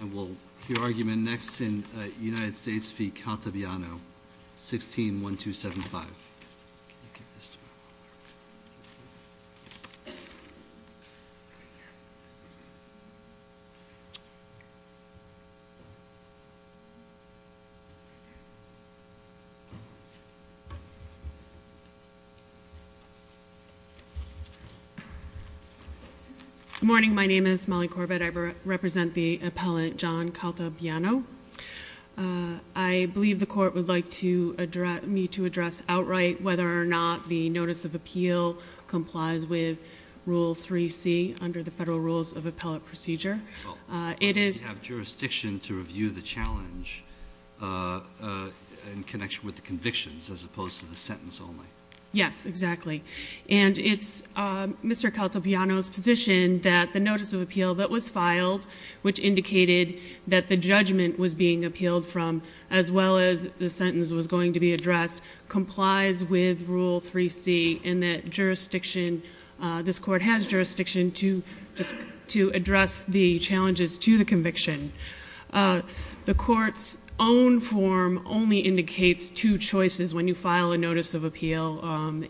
And we'll hear argument next in United States v. Cantabiano, 16-1275. Good morning. My name is Molly Corbett. I represent the appellant John Cantabiano. I believe the Court would like me to address outright whether or not the Notice of Appeal complies with Rule 3C under the Federal Rules of Appellate Procedure. Well, we have jurisdiction to review the challenge in connection with the convictions as opposed to the sentence only. Yes, exactly. And it's Mr. Cantabiano's position that the Notice of Appeal that was filed, which indicated that the judgment was being appealed from, as well as the sentence was going to be addressed, complies with Rule 3C and that jurisdiction, this Court has jurisdiction to address the challenges to the conviction. The Court's own form only indicates two choices when you file a Notice of Appeal.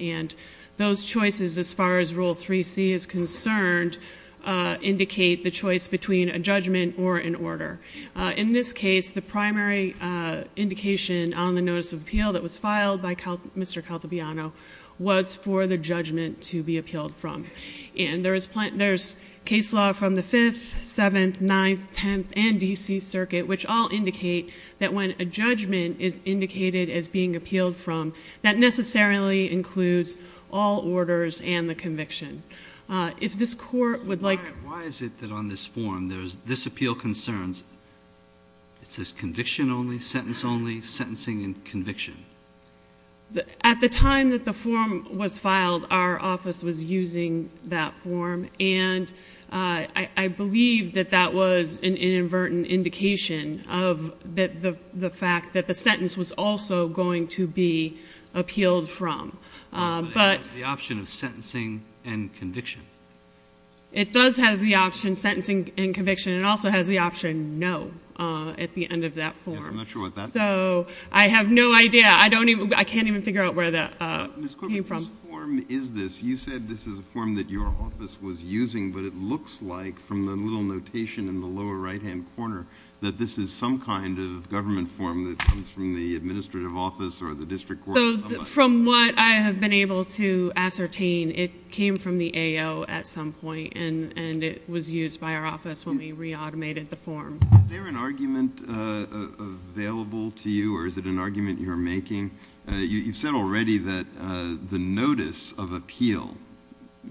And those choices, as far as Rule 3C is concerned, indicate the choice between a judgment or an order. In this case, the primary indication on the Notice of Appeal that was filed by Mr. Cantabiano was for the judgment to be appealed from. And there's case law from the 5th, 7th, 9th, 10th, and D.C. Circuit, which all indicate that when a judgment is indicated as being appealed from, that necessarily includes all orders and the conviction. If this Court would like... Why is it that on this form, there's this appeal concerns, it says conviction only, sentence only, sentencing and conviction? At the time that the form was filed, our office was using that form, and I believe that that was an inadvertent indication of the fact that the sentence was also going to be appealed from. But it has the option of sentencing and conviction. It does have the option sentencing and conviction. It also has the option no at the end of that form. Yes, I'm not sure about that. So I have no idea. I can't even figure out where that came from. Ms. Corbin, whose form is this? You said this is a form that your office was using, but it looks like from the little notation in the lower right-hand corner that this is some kind of government form that comes from the administrative office or the district court. So from what I have been able to ascertain, it came from the AO at some point, and it was used by our office when we reautomated the form. Is there an argument available to you, or is it an argument you're making? You said already that the notice of appeal,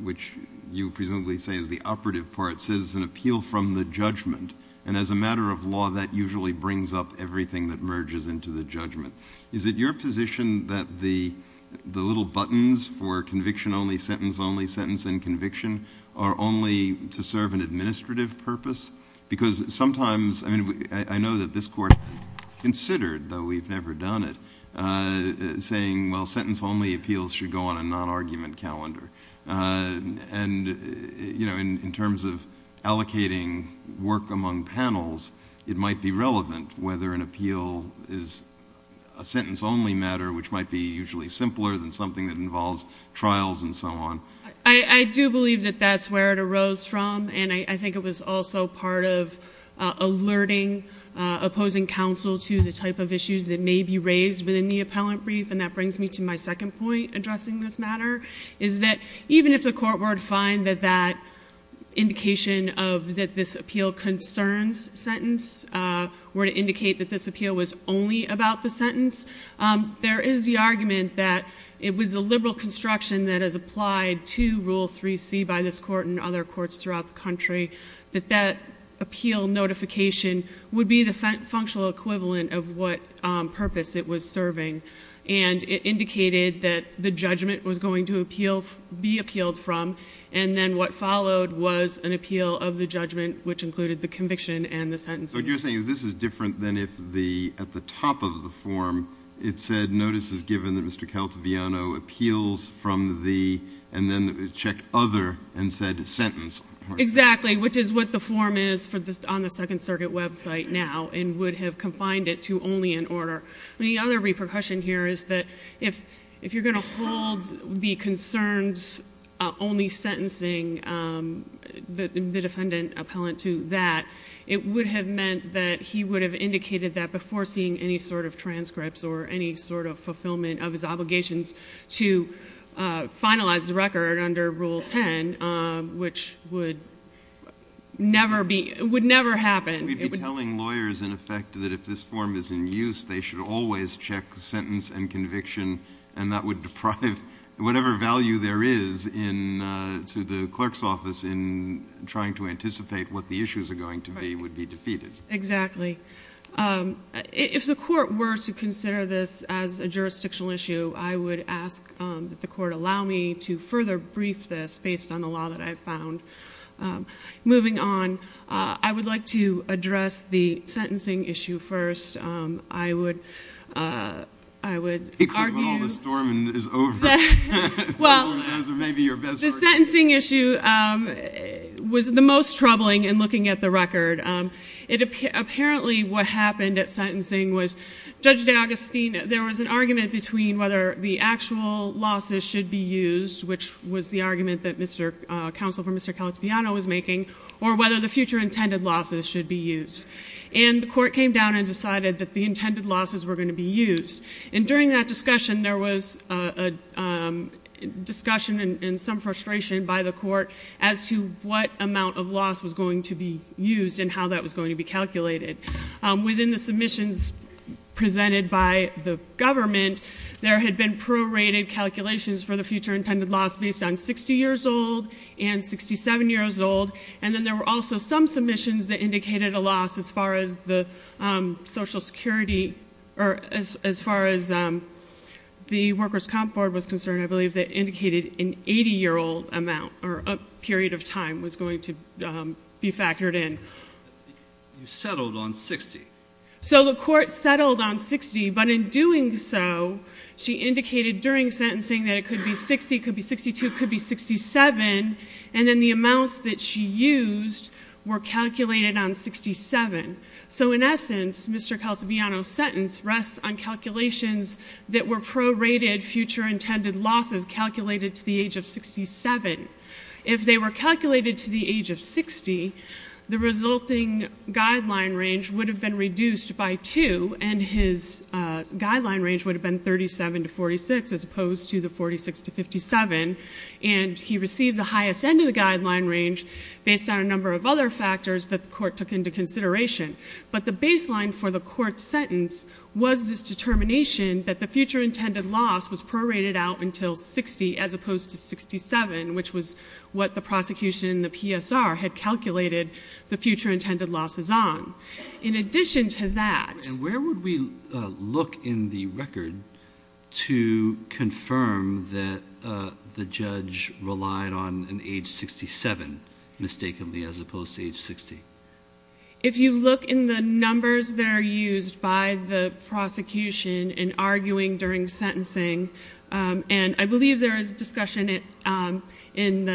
which you presumably say is the operative part, says an appeal from the judgment, and as a matter of law, that usually brings up everything that merges into the judgment. Is it your position that the little buttons for conviction only, sentence only, sentence and conviction are only to serve an administrative purpose? Because sometimes, I mean, I know that this Court has considered, though we've never done it, saying, well, sentence only appeals should go on a non-argument calendar. And, you know, in terms of allocating work among panels, it might be relevant whether an appeal is a sentence only matter, which might be usually simpler than something that involves trials and so on. I do believe that that's where it arose from, and I think it was also part of alerting opposing counsel to the type of issues that may be raised within the appellant brief, and that brings me to my second point addressing this matter, is that even if the Court were to find that that indication of that this appeal concerns sentence were to indicate that this appeal was only about the sentence, there is the argument that with the liberal construction that is applied to Rule 3C by this Court and other courts throughout the country, that that appeal notification would be the functional equivalent of what purpose it was serving. And it indicated that the judgment was going to be appealed from, and then what followed was an appeal of the judgment, which included the conviction and the sentence. So what you're saying is this is different than if at the top of the form it said, notice is given that Mr. Caldeviano appeals from the, and then it checked other and said sentence. Exactly, which is what the form is on the Second Circuit website now and would have confined it to only in order. The other repercussion here is that if you're going to hold the concerns only sentencing the defendant appellant to that, it would have meant that he would have indicated that before seeing any sort of transcripts or any sort of fulfillment of his obligations to finalize the record under Rule 10, which would never happen. We'd be telling lawyers, in effect, that if this form is in use, they should always check sentence and conviction, and that would deprive whatever value there is to the clerk's office in trying to anticipate what the issues are going to be would be defeated. Exactly. If the court were to consider this as a jurisdictional issue, I would ask that the court allow me to further brief this based on the law that I've found. Moving on, I would like to address the sentencing issue first. I would argue the sentencing issue was the most troubling in looking at the record. Apparently, what happened at sentencing was Judge D'Agostino, there was an argument between whether the actual losses should be used, which was the argument that counsel for Mr. Calatibiano was making, or whether the future intended losses should be used. And the court came down and decided that the intended losses were going to be used. And during that discussion, there was a discussion and some frustration by the court as to what amount of loss was going to be used and how that was going to be calculated. Within the submissions presented by the government, there had been prorated calculations for the future intended loss based on 60 years old and 67 years old, and then there were also some submissions that indicated a loss as far as the Social Security, or as far as the Workers' Comp Board was concerned, I believe, that indicated an 80-year-old amount or a period of time was going to be factored in. You settled on 60? So the court settled on 60, but in doing so, she indicated during sentencing that it could be 60, could be 62, could be 67, and then the amounts that she used were calculated on 67. So in essence, Mr. Calatibiano's sentence rests on calculations that were prorated future intended losses calculated to the age of 67. If they were calculated to the age of 60, the resulting guideline range would have been reduced by 2, and his guideline range would have been 37 to 46 as opposed to the 46 to 57, and he received the highest end of the guideline range based on a number of other factors that the court took into consideration. But the baseline for the court's sentence was this determination that the future intended loss was prorated out until 60 as opposed to 67, which was what the prosecution and the PSR had calculated the future intended losses on. In addition to that. And where would we look in the record to confirm that the judge relied on an age 67 mistakenly as opposed to age 60? If you look in the numbers that are used by the prosecution in arguing during sentencing, and I believe there is a discussion in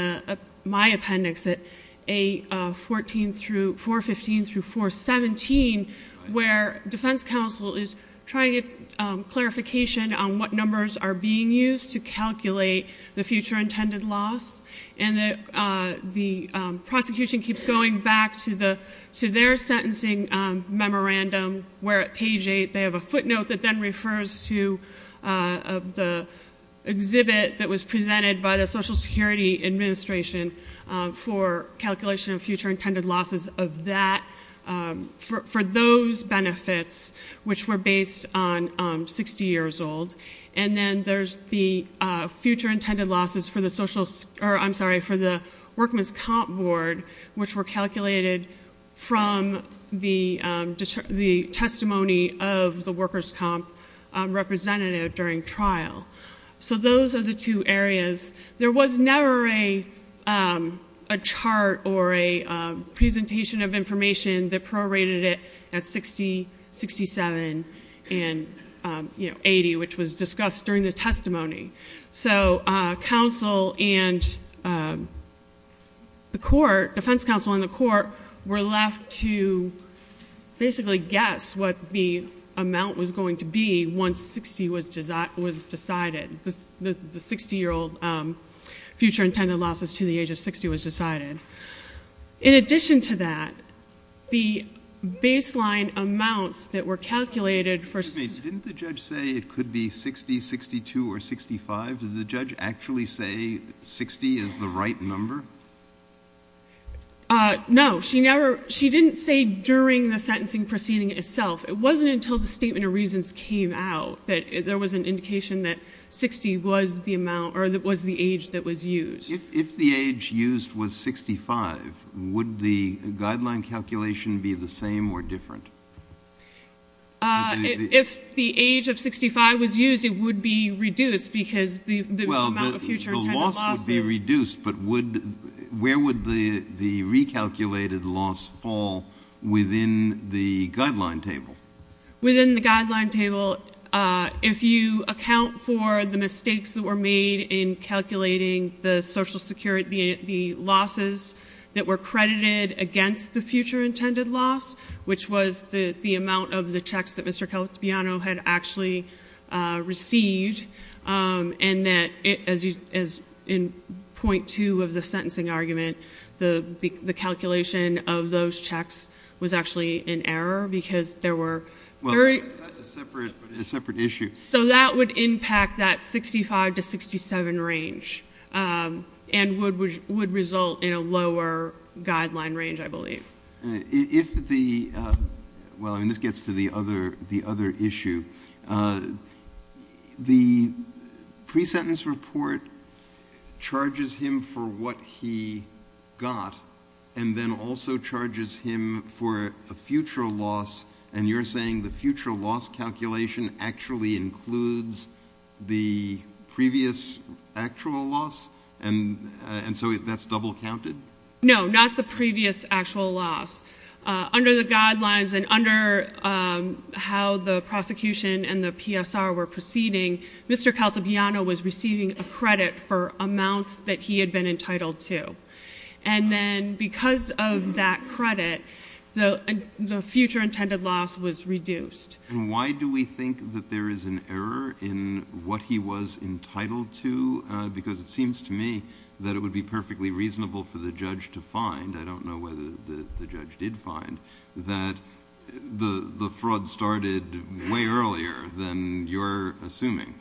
my appendix at 415 through 417, where defense counsel is trying to get clarification on what numbers are being used to calculate the future intended loss, and the prosecution keeps going back to their sentencing memorandum where at page 8, they have a footnote that then refers to the exhibit that was presented by the Social Security Administration for calculation of future intended losses of that, for those benefits, which were based on 60 years old. And then there's the future intended losses for the Workmen's Comp Board, which were calculated from the testimony of the Workers' Comp representative during trial. So those are the two areas. There was never a chart or a presentation of information that prorated it at 60, 67, and 80, which was discussed during the testimony. So defense counsel and the court were left to basically guess what the amount was going to be once 60 was decided, the 60-year-old future intended losses to the age of 60 was decided. In addition to that, the baseline amounts that were calculated for... Did the judge actually say 60 is the right number? No. She didn't say during the sentencing proceeding itself. It wasn't until the Statement of Reasons came out that there was an indication that 60 was the age that was used. If the age used was 65, would the guideline calculation be the same or different? If the age of 65 was used, it would be reduced because the amount of future intended losses... Well, the loss would be reduced, but where would the recalculated loss fall within the guideline table? Within the guideline table, if you account for the mistakes that were made in calculating the social security... The losses that were credited against the future intended loss, which was the amount of the checks that Mr. Calatibiano had actually received, and that in .2 of the sentencing argument, the calculation of those checks was actually in error because there were... That's a separate issue. So, that would impact that 65 to 67 range and would result in a lower guideline range, I believe. If the... Well, I mean, this gets to the other issue. The pre-sentence report charges him for what he got and then also charges him for a future loss, and you're saying the future loss calculation actually in error? That includes the previous actual loss? And so, that's double counted? No, not the previous actual loss. Under the guidelines and under how the prosecution and the PSR were proceeding... Mr. Calatibiano was receiving a credit for amounts that he had been entitled to. And then, because of that credit, the future intended loss was reduced. And why do we think that there is an error in what he was entitled to? Because it seems to me that it would be perfectly reasonable for the judge to find... I don't know whether the judge did find... that the fraud started way earlier than you're assuming.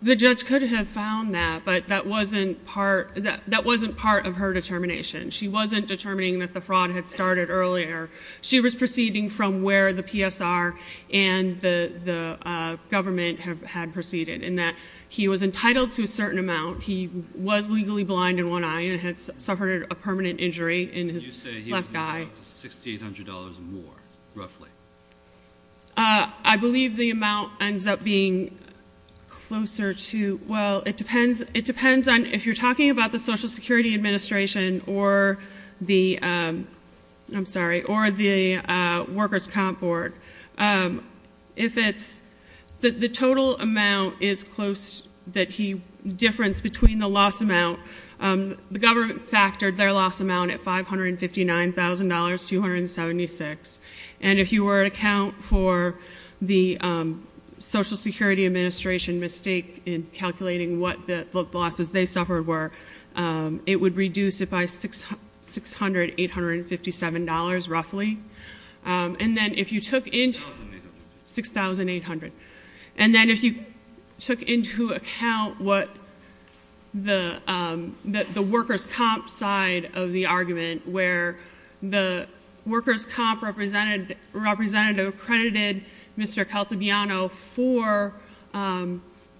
The judge could have found that, but that wasn't part of her determination. She wasn't determining that the fraud had started earlier. She was proceeding from where the PSR and the government had proceeded in that he was entitled to a certain amount. He was legally blind in one eye and had suffered a permanent injury in his left eye. And you say he was entitled to $6,800 more, roughly? I believe the amount ends up being closer to... Well, it depends on if you're talking about the Social Security Administration or the... I'm sorry, or the Workers' Comp Board. If it's... the total amount is close that he differenced between the loss amount. The government factored their loss amount at $559,276. And if you were to count for the Social Security Administration mistake in calculating what the losses they suffered were, it would reduce it by $600,857, roughly. And then if you took into... $6,800. And then if you took into account what the Workers' Comp side of the argument, where the Workers' Comp representative accredited Mr. Caltabiano for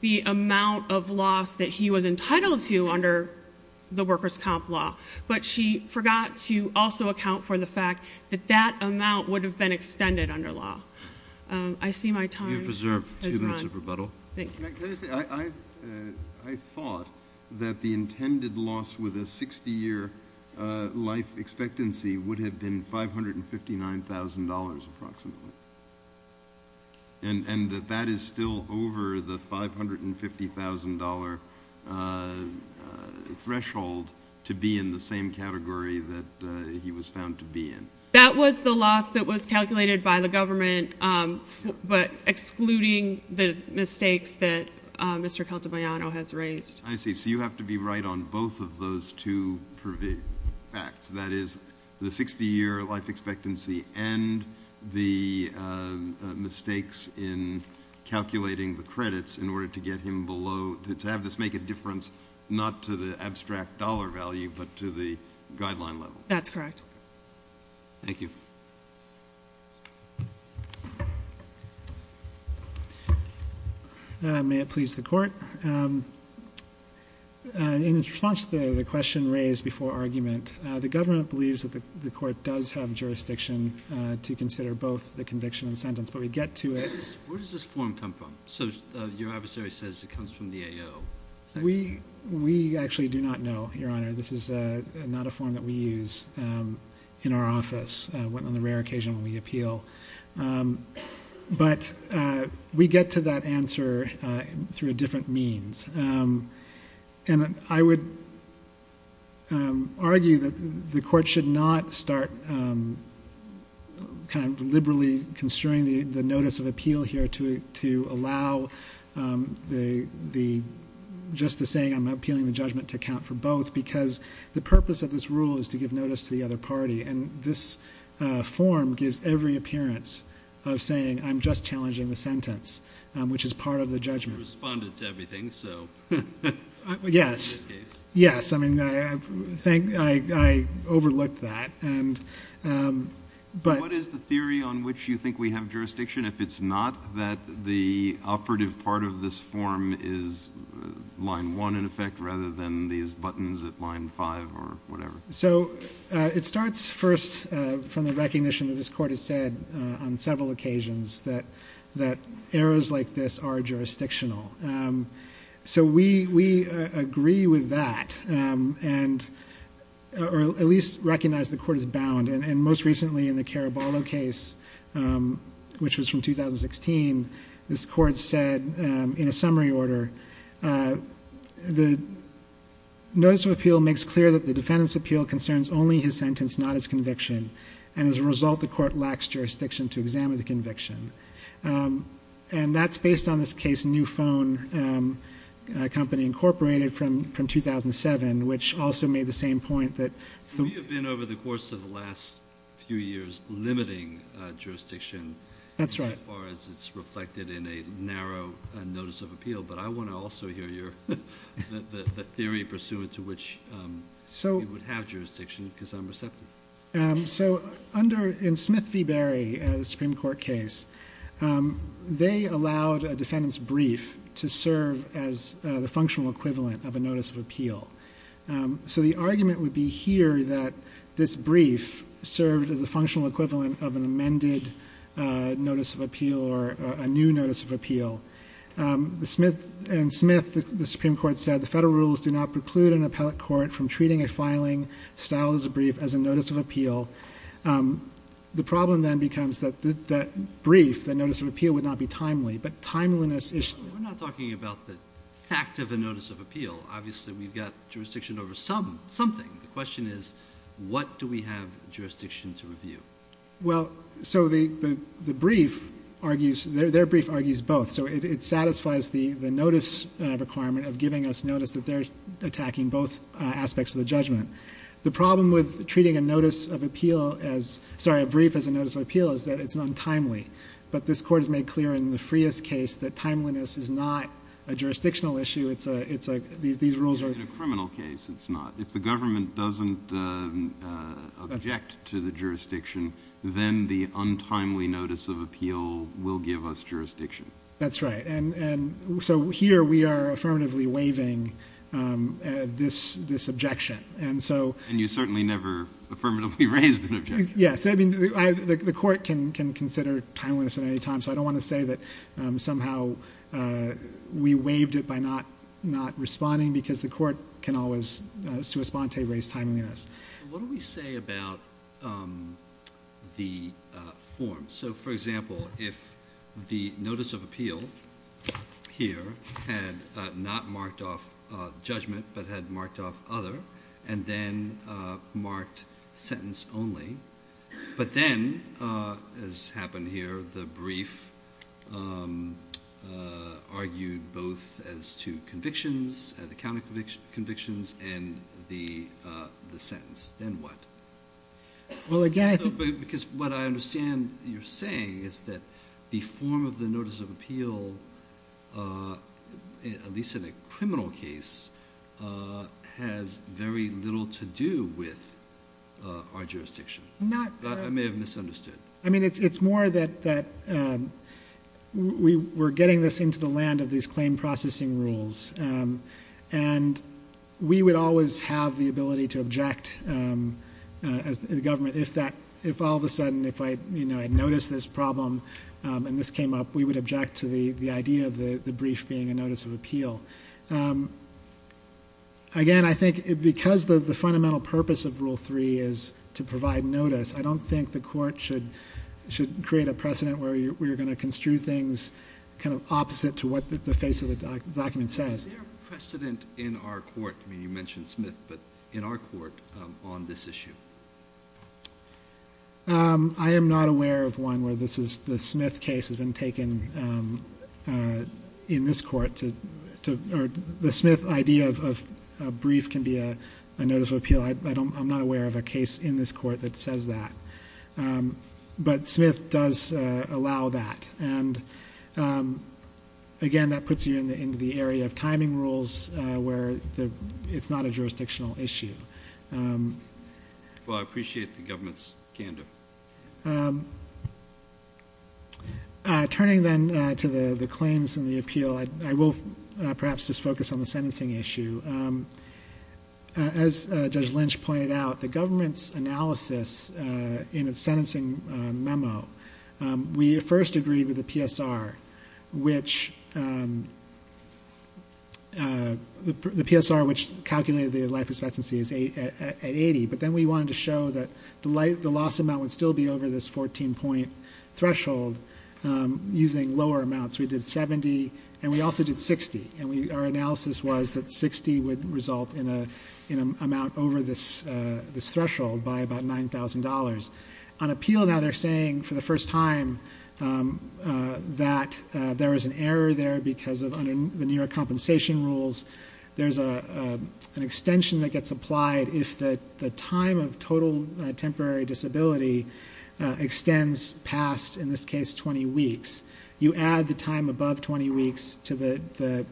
the amount of loss that he was entitled to under the Workers' Comp law. But she forgot to also account for the fact that that amount would have been extended under law. I see my time has run. I thought that the intended loss with a 60-year life expectancy would have been $559,000, approximately. And that that is still over the $550,000 threshold to be in the same category that he was found to be in. That was the loss that was calculated by the government, but excluding the mistakes that Mr. Caltabiano has raised. I see. So you have to be right on both of those two facts. That is, the 60-year life expectancy and the mistakes in calculating the credits in order to get him below... to have this make a difference, not to the abstract dollar value, but to the guideline level. That's correct. Thank you. May it please the Court. In response to the question raised before argument, the government believes that the Court does have jurisdiction to consider both the conviction and sentence. But we get to it... Where does this form come from? So, your adversary says it comes from the AO. We actually do not know, Your Honor. This is not a form that we use in our office on the rare occasion when we appeal. But, we get to that answer through a different means. And I would argue that the Court should not start kind of liberally constrain the notice of appeal here to allow the just the saying, I'm appealing the judgment to account for both, because the purpose of this rule is to give notice to the other party. And this form gives every appearance of saying, I'm just challenging the sentence, which is part of the judgment. You responded to everything, so... Yes. In this case. Yes. I mean, I overlooked that. But... What is the theory on which you think we have jurisdiction if it's not that the operative part of this form is line one in effect, rather than these buttons at line five or whatever? So, it starts first from the recognition that this Court has said on several occasions that errors like this are jurisdictional. So, we agree with that, or at least recognize the Court is bound. And most recently in the Caraballo case, which was from 2016, this Court said in a summary order, the notice of appeal makes clear that the defendant's appeal concerns only his sentence, not his conviction. And as a result, the Court lacks jurisdiction to examine the conviction. And that's based on this case New Phone Company, Incorporated, from 2007, which also made the same point that... We have been, over the course of the last few years, limiting jurisdiction... That's right.... so far as it's reflected in a narrow notice of appeal. But I want to also hear your... the theory pursuant to which we would have jurisdiction, because I'm receptive. So, under... in Smith v. Berry, the Supreme Court case, they allowed a defendant's brief to serve as the functional equivalent of a notice of appeal. So, the argument would be here that this brief served as a functional equivalent of an amended notice of appeal, or a new notice of appeal. The Smith... in Smith, the Supreme Court said, the Federal rules do not preclude an appellate court from treating a filing styled as a brief as a notice of appeal. The problem then becomes that that brief, that notice of appeal, would not be timely. But timeliness is... We're not talking about the fact of a notice of appeal. Obviously, we've got jurisdiction over some... something. The question is, what do we have jurisdiction to review? Well, so the brief argues... their brief argues both. So, it satisfies the notice requirement of giving us notice that they're attacking both aspects of the judgment. The problem with treating a notice of appeal as... sorry, a brief as a notice of appeal, is that it's untimely. But this Court has made clear in the Frias case that timeliness is not a jurisdictional issue. It's a... it's a... these rules are... In a criminal case, it's not. If the government doesn't object to the jurisdiction, then the untimely notice of appeal will give us jurisdiction. That's right. And so, here we are affirmatively waiving this objection. And so... And you certainly never affirmatively raised an objection. Yes. I mean, the Court can consider timeliness at any time. So, I don't want to say that somehow we waived it by not responding, because the Court can always sua sponte, raise timeliness. What do we say about the form? So, for example, if the notice of appeal here had not marked off judgment, but had marked off other, and then marked sentence only, but then, as happened here, the brief argued both as to convictions, the county convictions, and the sentence, then what? Well, again, I think... Because what I understand you're saying is that the form of the notice of appeal, at least in a criminal case, has very little to do with our jurisdiction. Not... I may have misunderstood. I mean, it's more that we're getting this into the land of these claim processing rules. And we would always have the ability to object, as the government, if all of a sudden, if I noticed this problem and this came up, we would object to the idea of the brief being a notice of appeal. Again, I think because the fundamental purpose of Rule 3 is to provide notice, I don't think the court should create a precedent where we're going to construe things kind of opposite to what the face of the document says. Is there a precedent in our court? I mean, you mentioned Smith, but in our court on this issue? I am not aware of one where this is the Smith case has been taken in this court to... The Smith idea of a brief can be a notice of appeal. I'm not aware of a case in this court that says that. But Smith does allow that. And again, that puts you into the area of timing rules where it's not a jurisdictional issue. Well, I appreciate the government's candor. Turning then to the claims and the appeal, I will perhaps just focus on the sentencing issue. As Judge Lynch pointed out, the government's analysis in its sentencing memo, we first agreed with the PSR, which calculated the life expectancy at 80. But then we wanted to show that the loss amount would still be over this 14-point threshold using lower amounts. We did 70 and we also did 60. And our analysis was that 60 would result in an amount over this threshold by about $9,000. On appeal now, they're saying for the first time that there was an error there because of the New York compensation rules. There's an extension that gets applied if the time of total temporary disability extends past, in this case, 20 weeks. You add the time above 20 weeks to the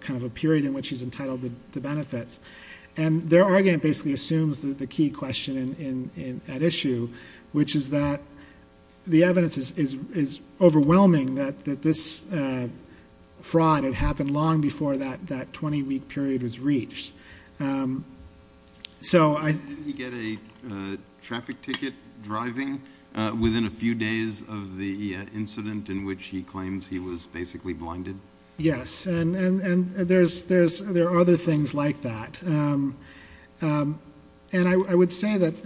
kind of a period in which he's entitled to benefits. And their argument basically assumes the key question at issue, which is that the evidence is overwhelming that this fraud had happened long before that 20-week period was reached. Didn't he get a traffic ticket driving within a few days of the incident in which he claims he was basically blinded? Yes, and there are other things like that. And I would say that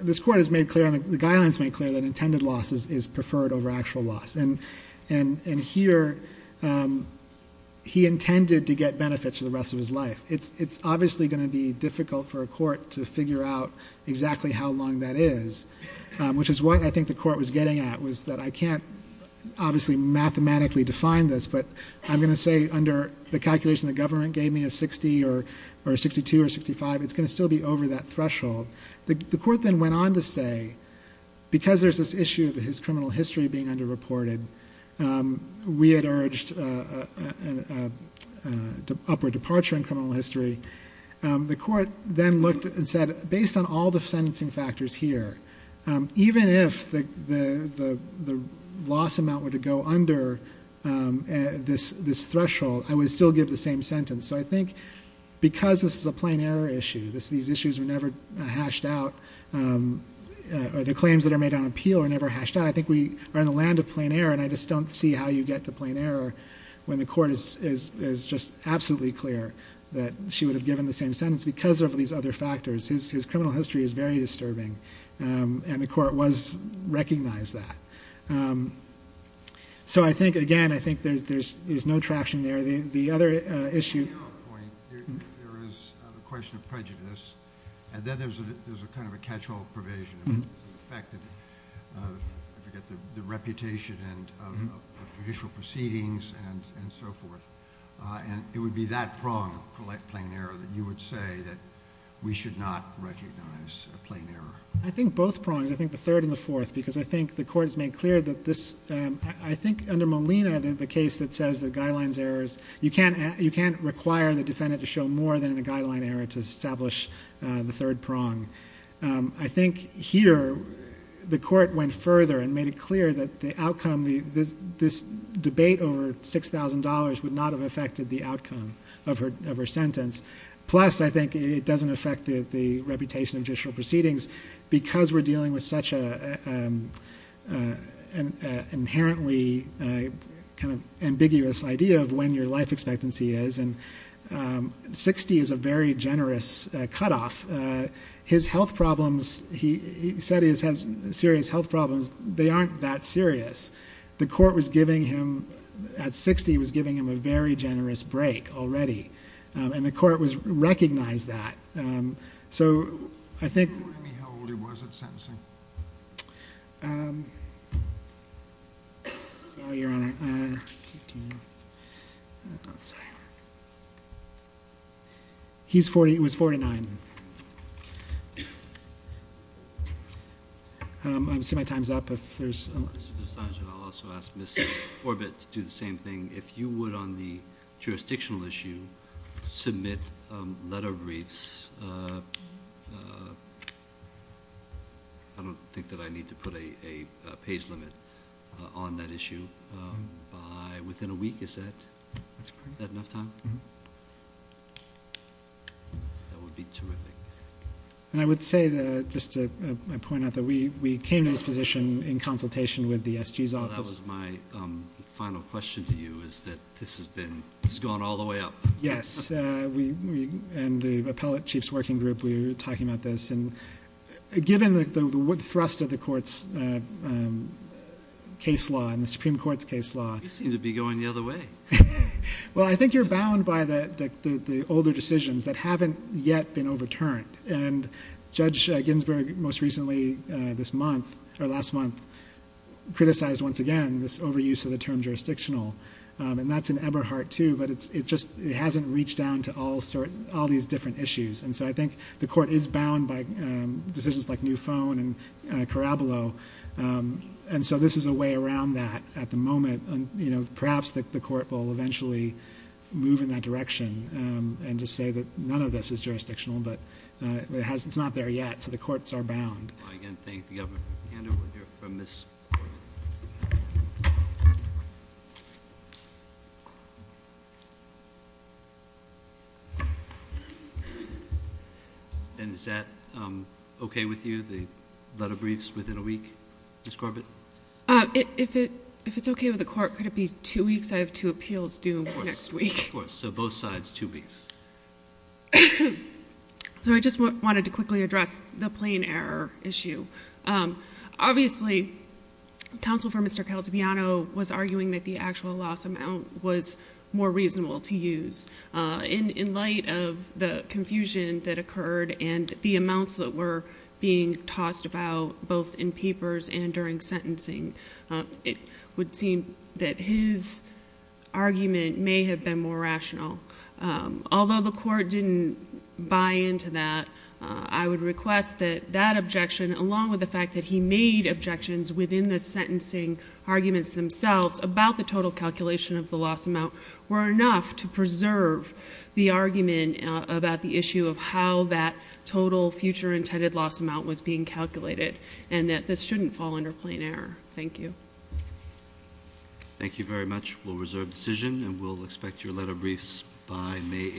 this court has made clear, the guidelines made clear that intended loss is preferred over actual loss. And here, he intended to get benefits for the rest of his life. It's obviously going to be difficult for a court to figure out exactly how long that is, which is what I think the court was getting at was that I can't obviously mathematically define this, but I'm going to say under the calculation the government gave me of 60 or 62 or 65, it's going to still be over that threshold. The court then went on to say, because there's this issue of his criminal history being underreported, we had urged an upward departure in criminal history. The court then looked and said, based on all the sentencing factors here, even if the loss amount were to go under this threshold, I would still give the same sentence. So I think because this is a plain error issue, these issues were never hashed out, or the claims that are made on appeal are never hashed out, I think we are in the land of plain error, and I just don't see how you get to plain error when the court is just absolutely clear that she would have given the same sentence because of these other factors. His criminal history is very disturbing, and the court recognized that. So I think, again, I think there's no traction there. On the error point, there is the question of prejudice, and then there's a kind of a catch-all provision, the fact that the reputation of judicial proceedings and so forth, and it would be that prong of plain error that you would say that we should not recognize a plain error. I think both prongs, I think the third and the fourth, because I think the court has made clear that this, I think under Molina, the case that says the guidelines errors, you can't require the defendant to show more than the guideline error to establish the third prong. I think here the court went further and made it clear that the outcome, this debate over $6,000 would not have affected the outcome of her sentence. Plus, I think it doesn't affect the reputation of judicial proceedings because we're dealing with such an inherently kind of ambiguous idea of when your life expectancy is, and 60 is a very generous cutoff. His health problems, he said he has serious health problems. They aren't that serious. The court was giving him, at 60, was giving him a very generous break already, and the court recognized that. So I think... Can you remind me how old he was at sentencing? Oh, Your Honor. He was 49. I'm assuming my time's up if there's... Mr. Dostogin, I'll also ask Ms. Orbit to do the same thing. If you would, on the jurisdictional issue, submit letter briefs. I don't think that I need to put a page limit on that issue. Within a week, you said? That's correct. Is that enough time? Mm-hmm. That would be terrific. And I would say, just to point out that we came to this position in consultation with the SG's office. Well, that was my final question to you, is that this has been... This has gone all the way up. Yes. And the appellate chief's working group, we were talking about this. And given the thrust of the court's case law and the Supreme Court's case law... You seem to be going the other way. Well, I think you're bound by the older decisions that haven't yet been overturned. And Judge Ginsburg, most recently, this month, or last month, criticized, once again, this overuse of the term jurisdictional. And that's in Eberhardt, too, but it just hasn't reached down to all these different issues. And so I think the court is bound by decisions like New Phone and Caraballo. And so this is a way around that at the moment. Perhaps the court will eventually move in that direction and just say that none of this is jurisdictional, but it's not there yet. So the courts are bound. I, again, thank the Governor. Ms. Kander, we'll hear from Ms. Corbett. And is that okay with you, the letter briefs, within a week? Ms. Corbett? If it's okay with the court, could it be two weeks? I have two appeals due next week. Of course, so both sides, two weeks. So I just wanted to quickly address the plain error issue. Obviously, counsel for Mr. Caltabiano was arguing that the actual loss amount was more reasonable to use. In light of the confusion that occurred and the amounts that were being tossed about, both in papers and during sentencing, it would seem that his argument may have been more rational. Although the court didn't buy into that, I would request that that objection, along with the fact that he made objections within the sentencing arguments themselves about the total calculation of the loss amount, were enough to preserve the argument about the issue of how that total future intended loss amount was being calculated and that this shouldn't fall under plain error. Thank you. Thank you very much. We'll reserve the decision and we'll expect your letter briefs by May 18th.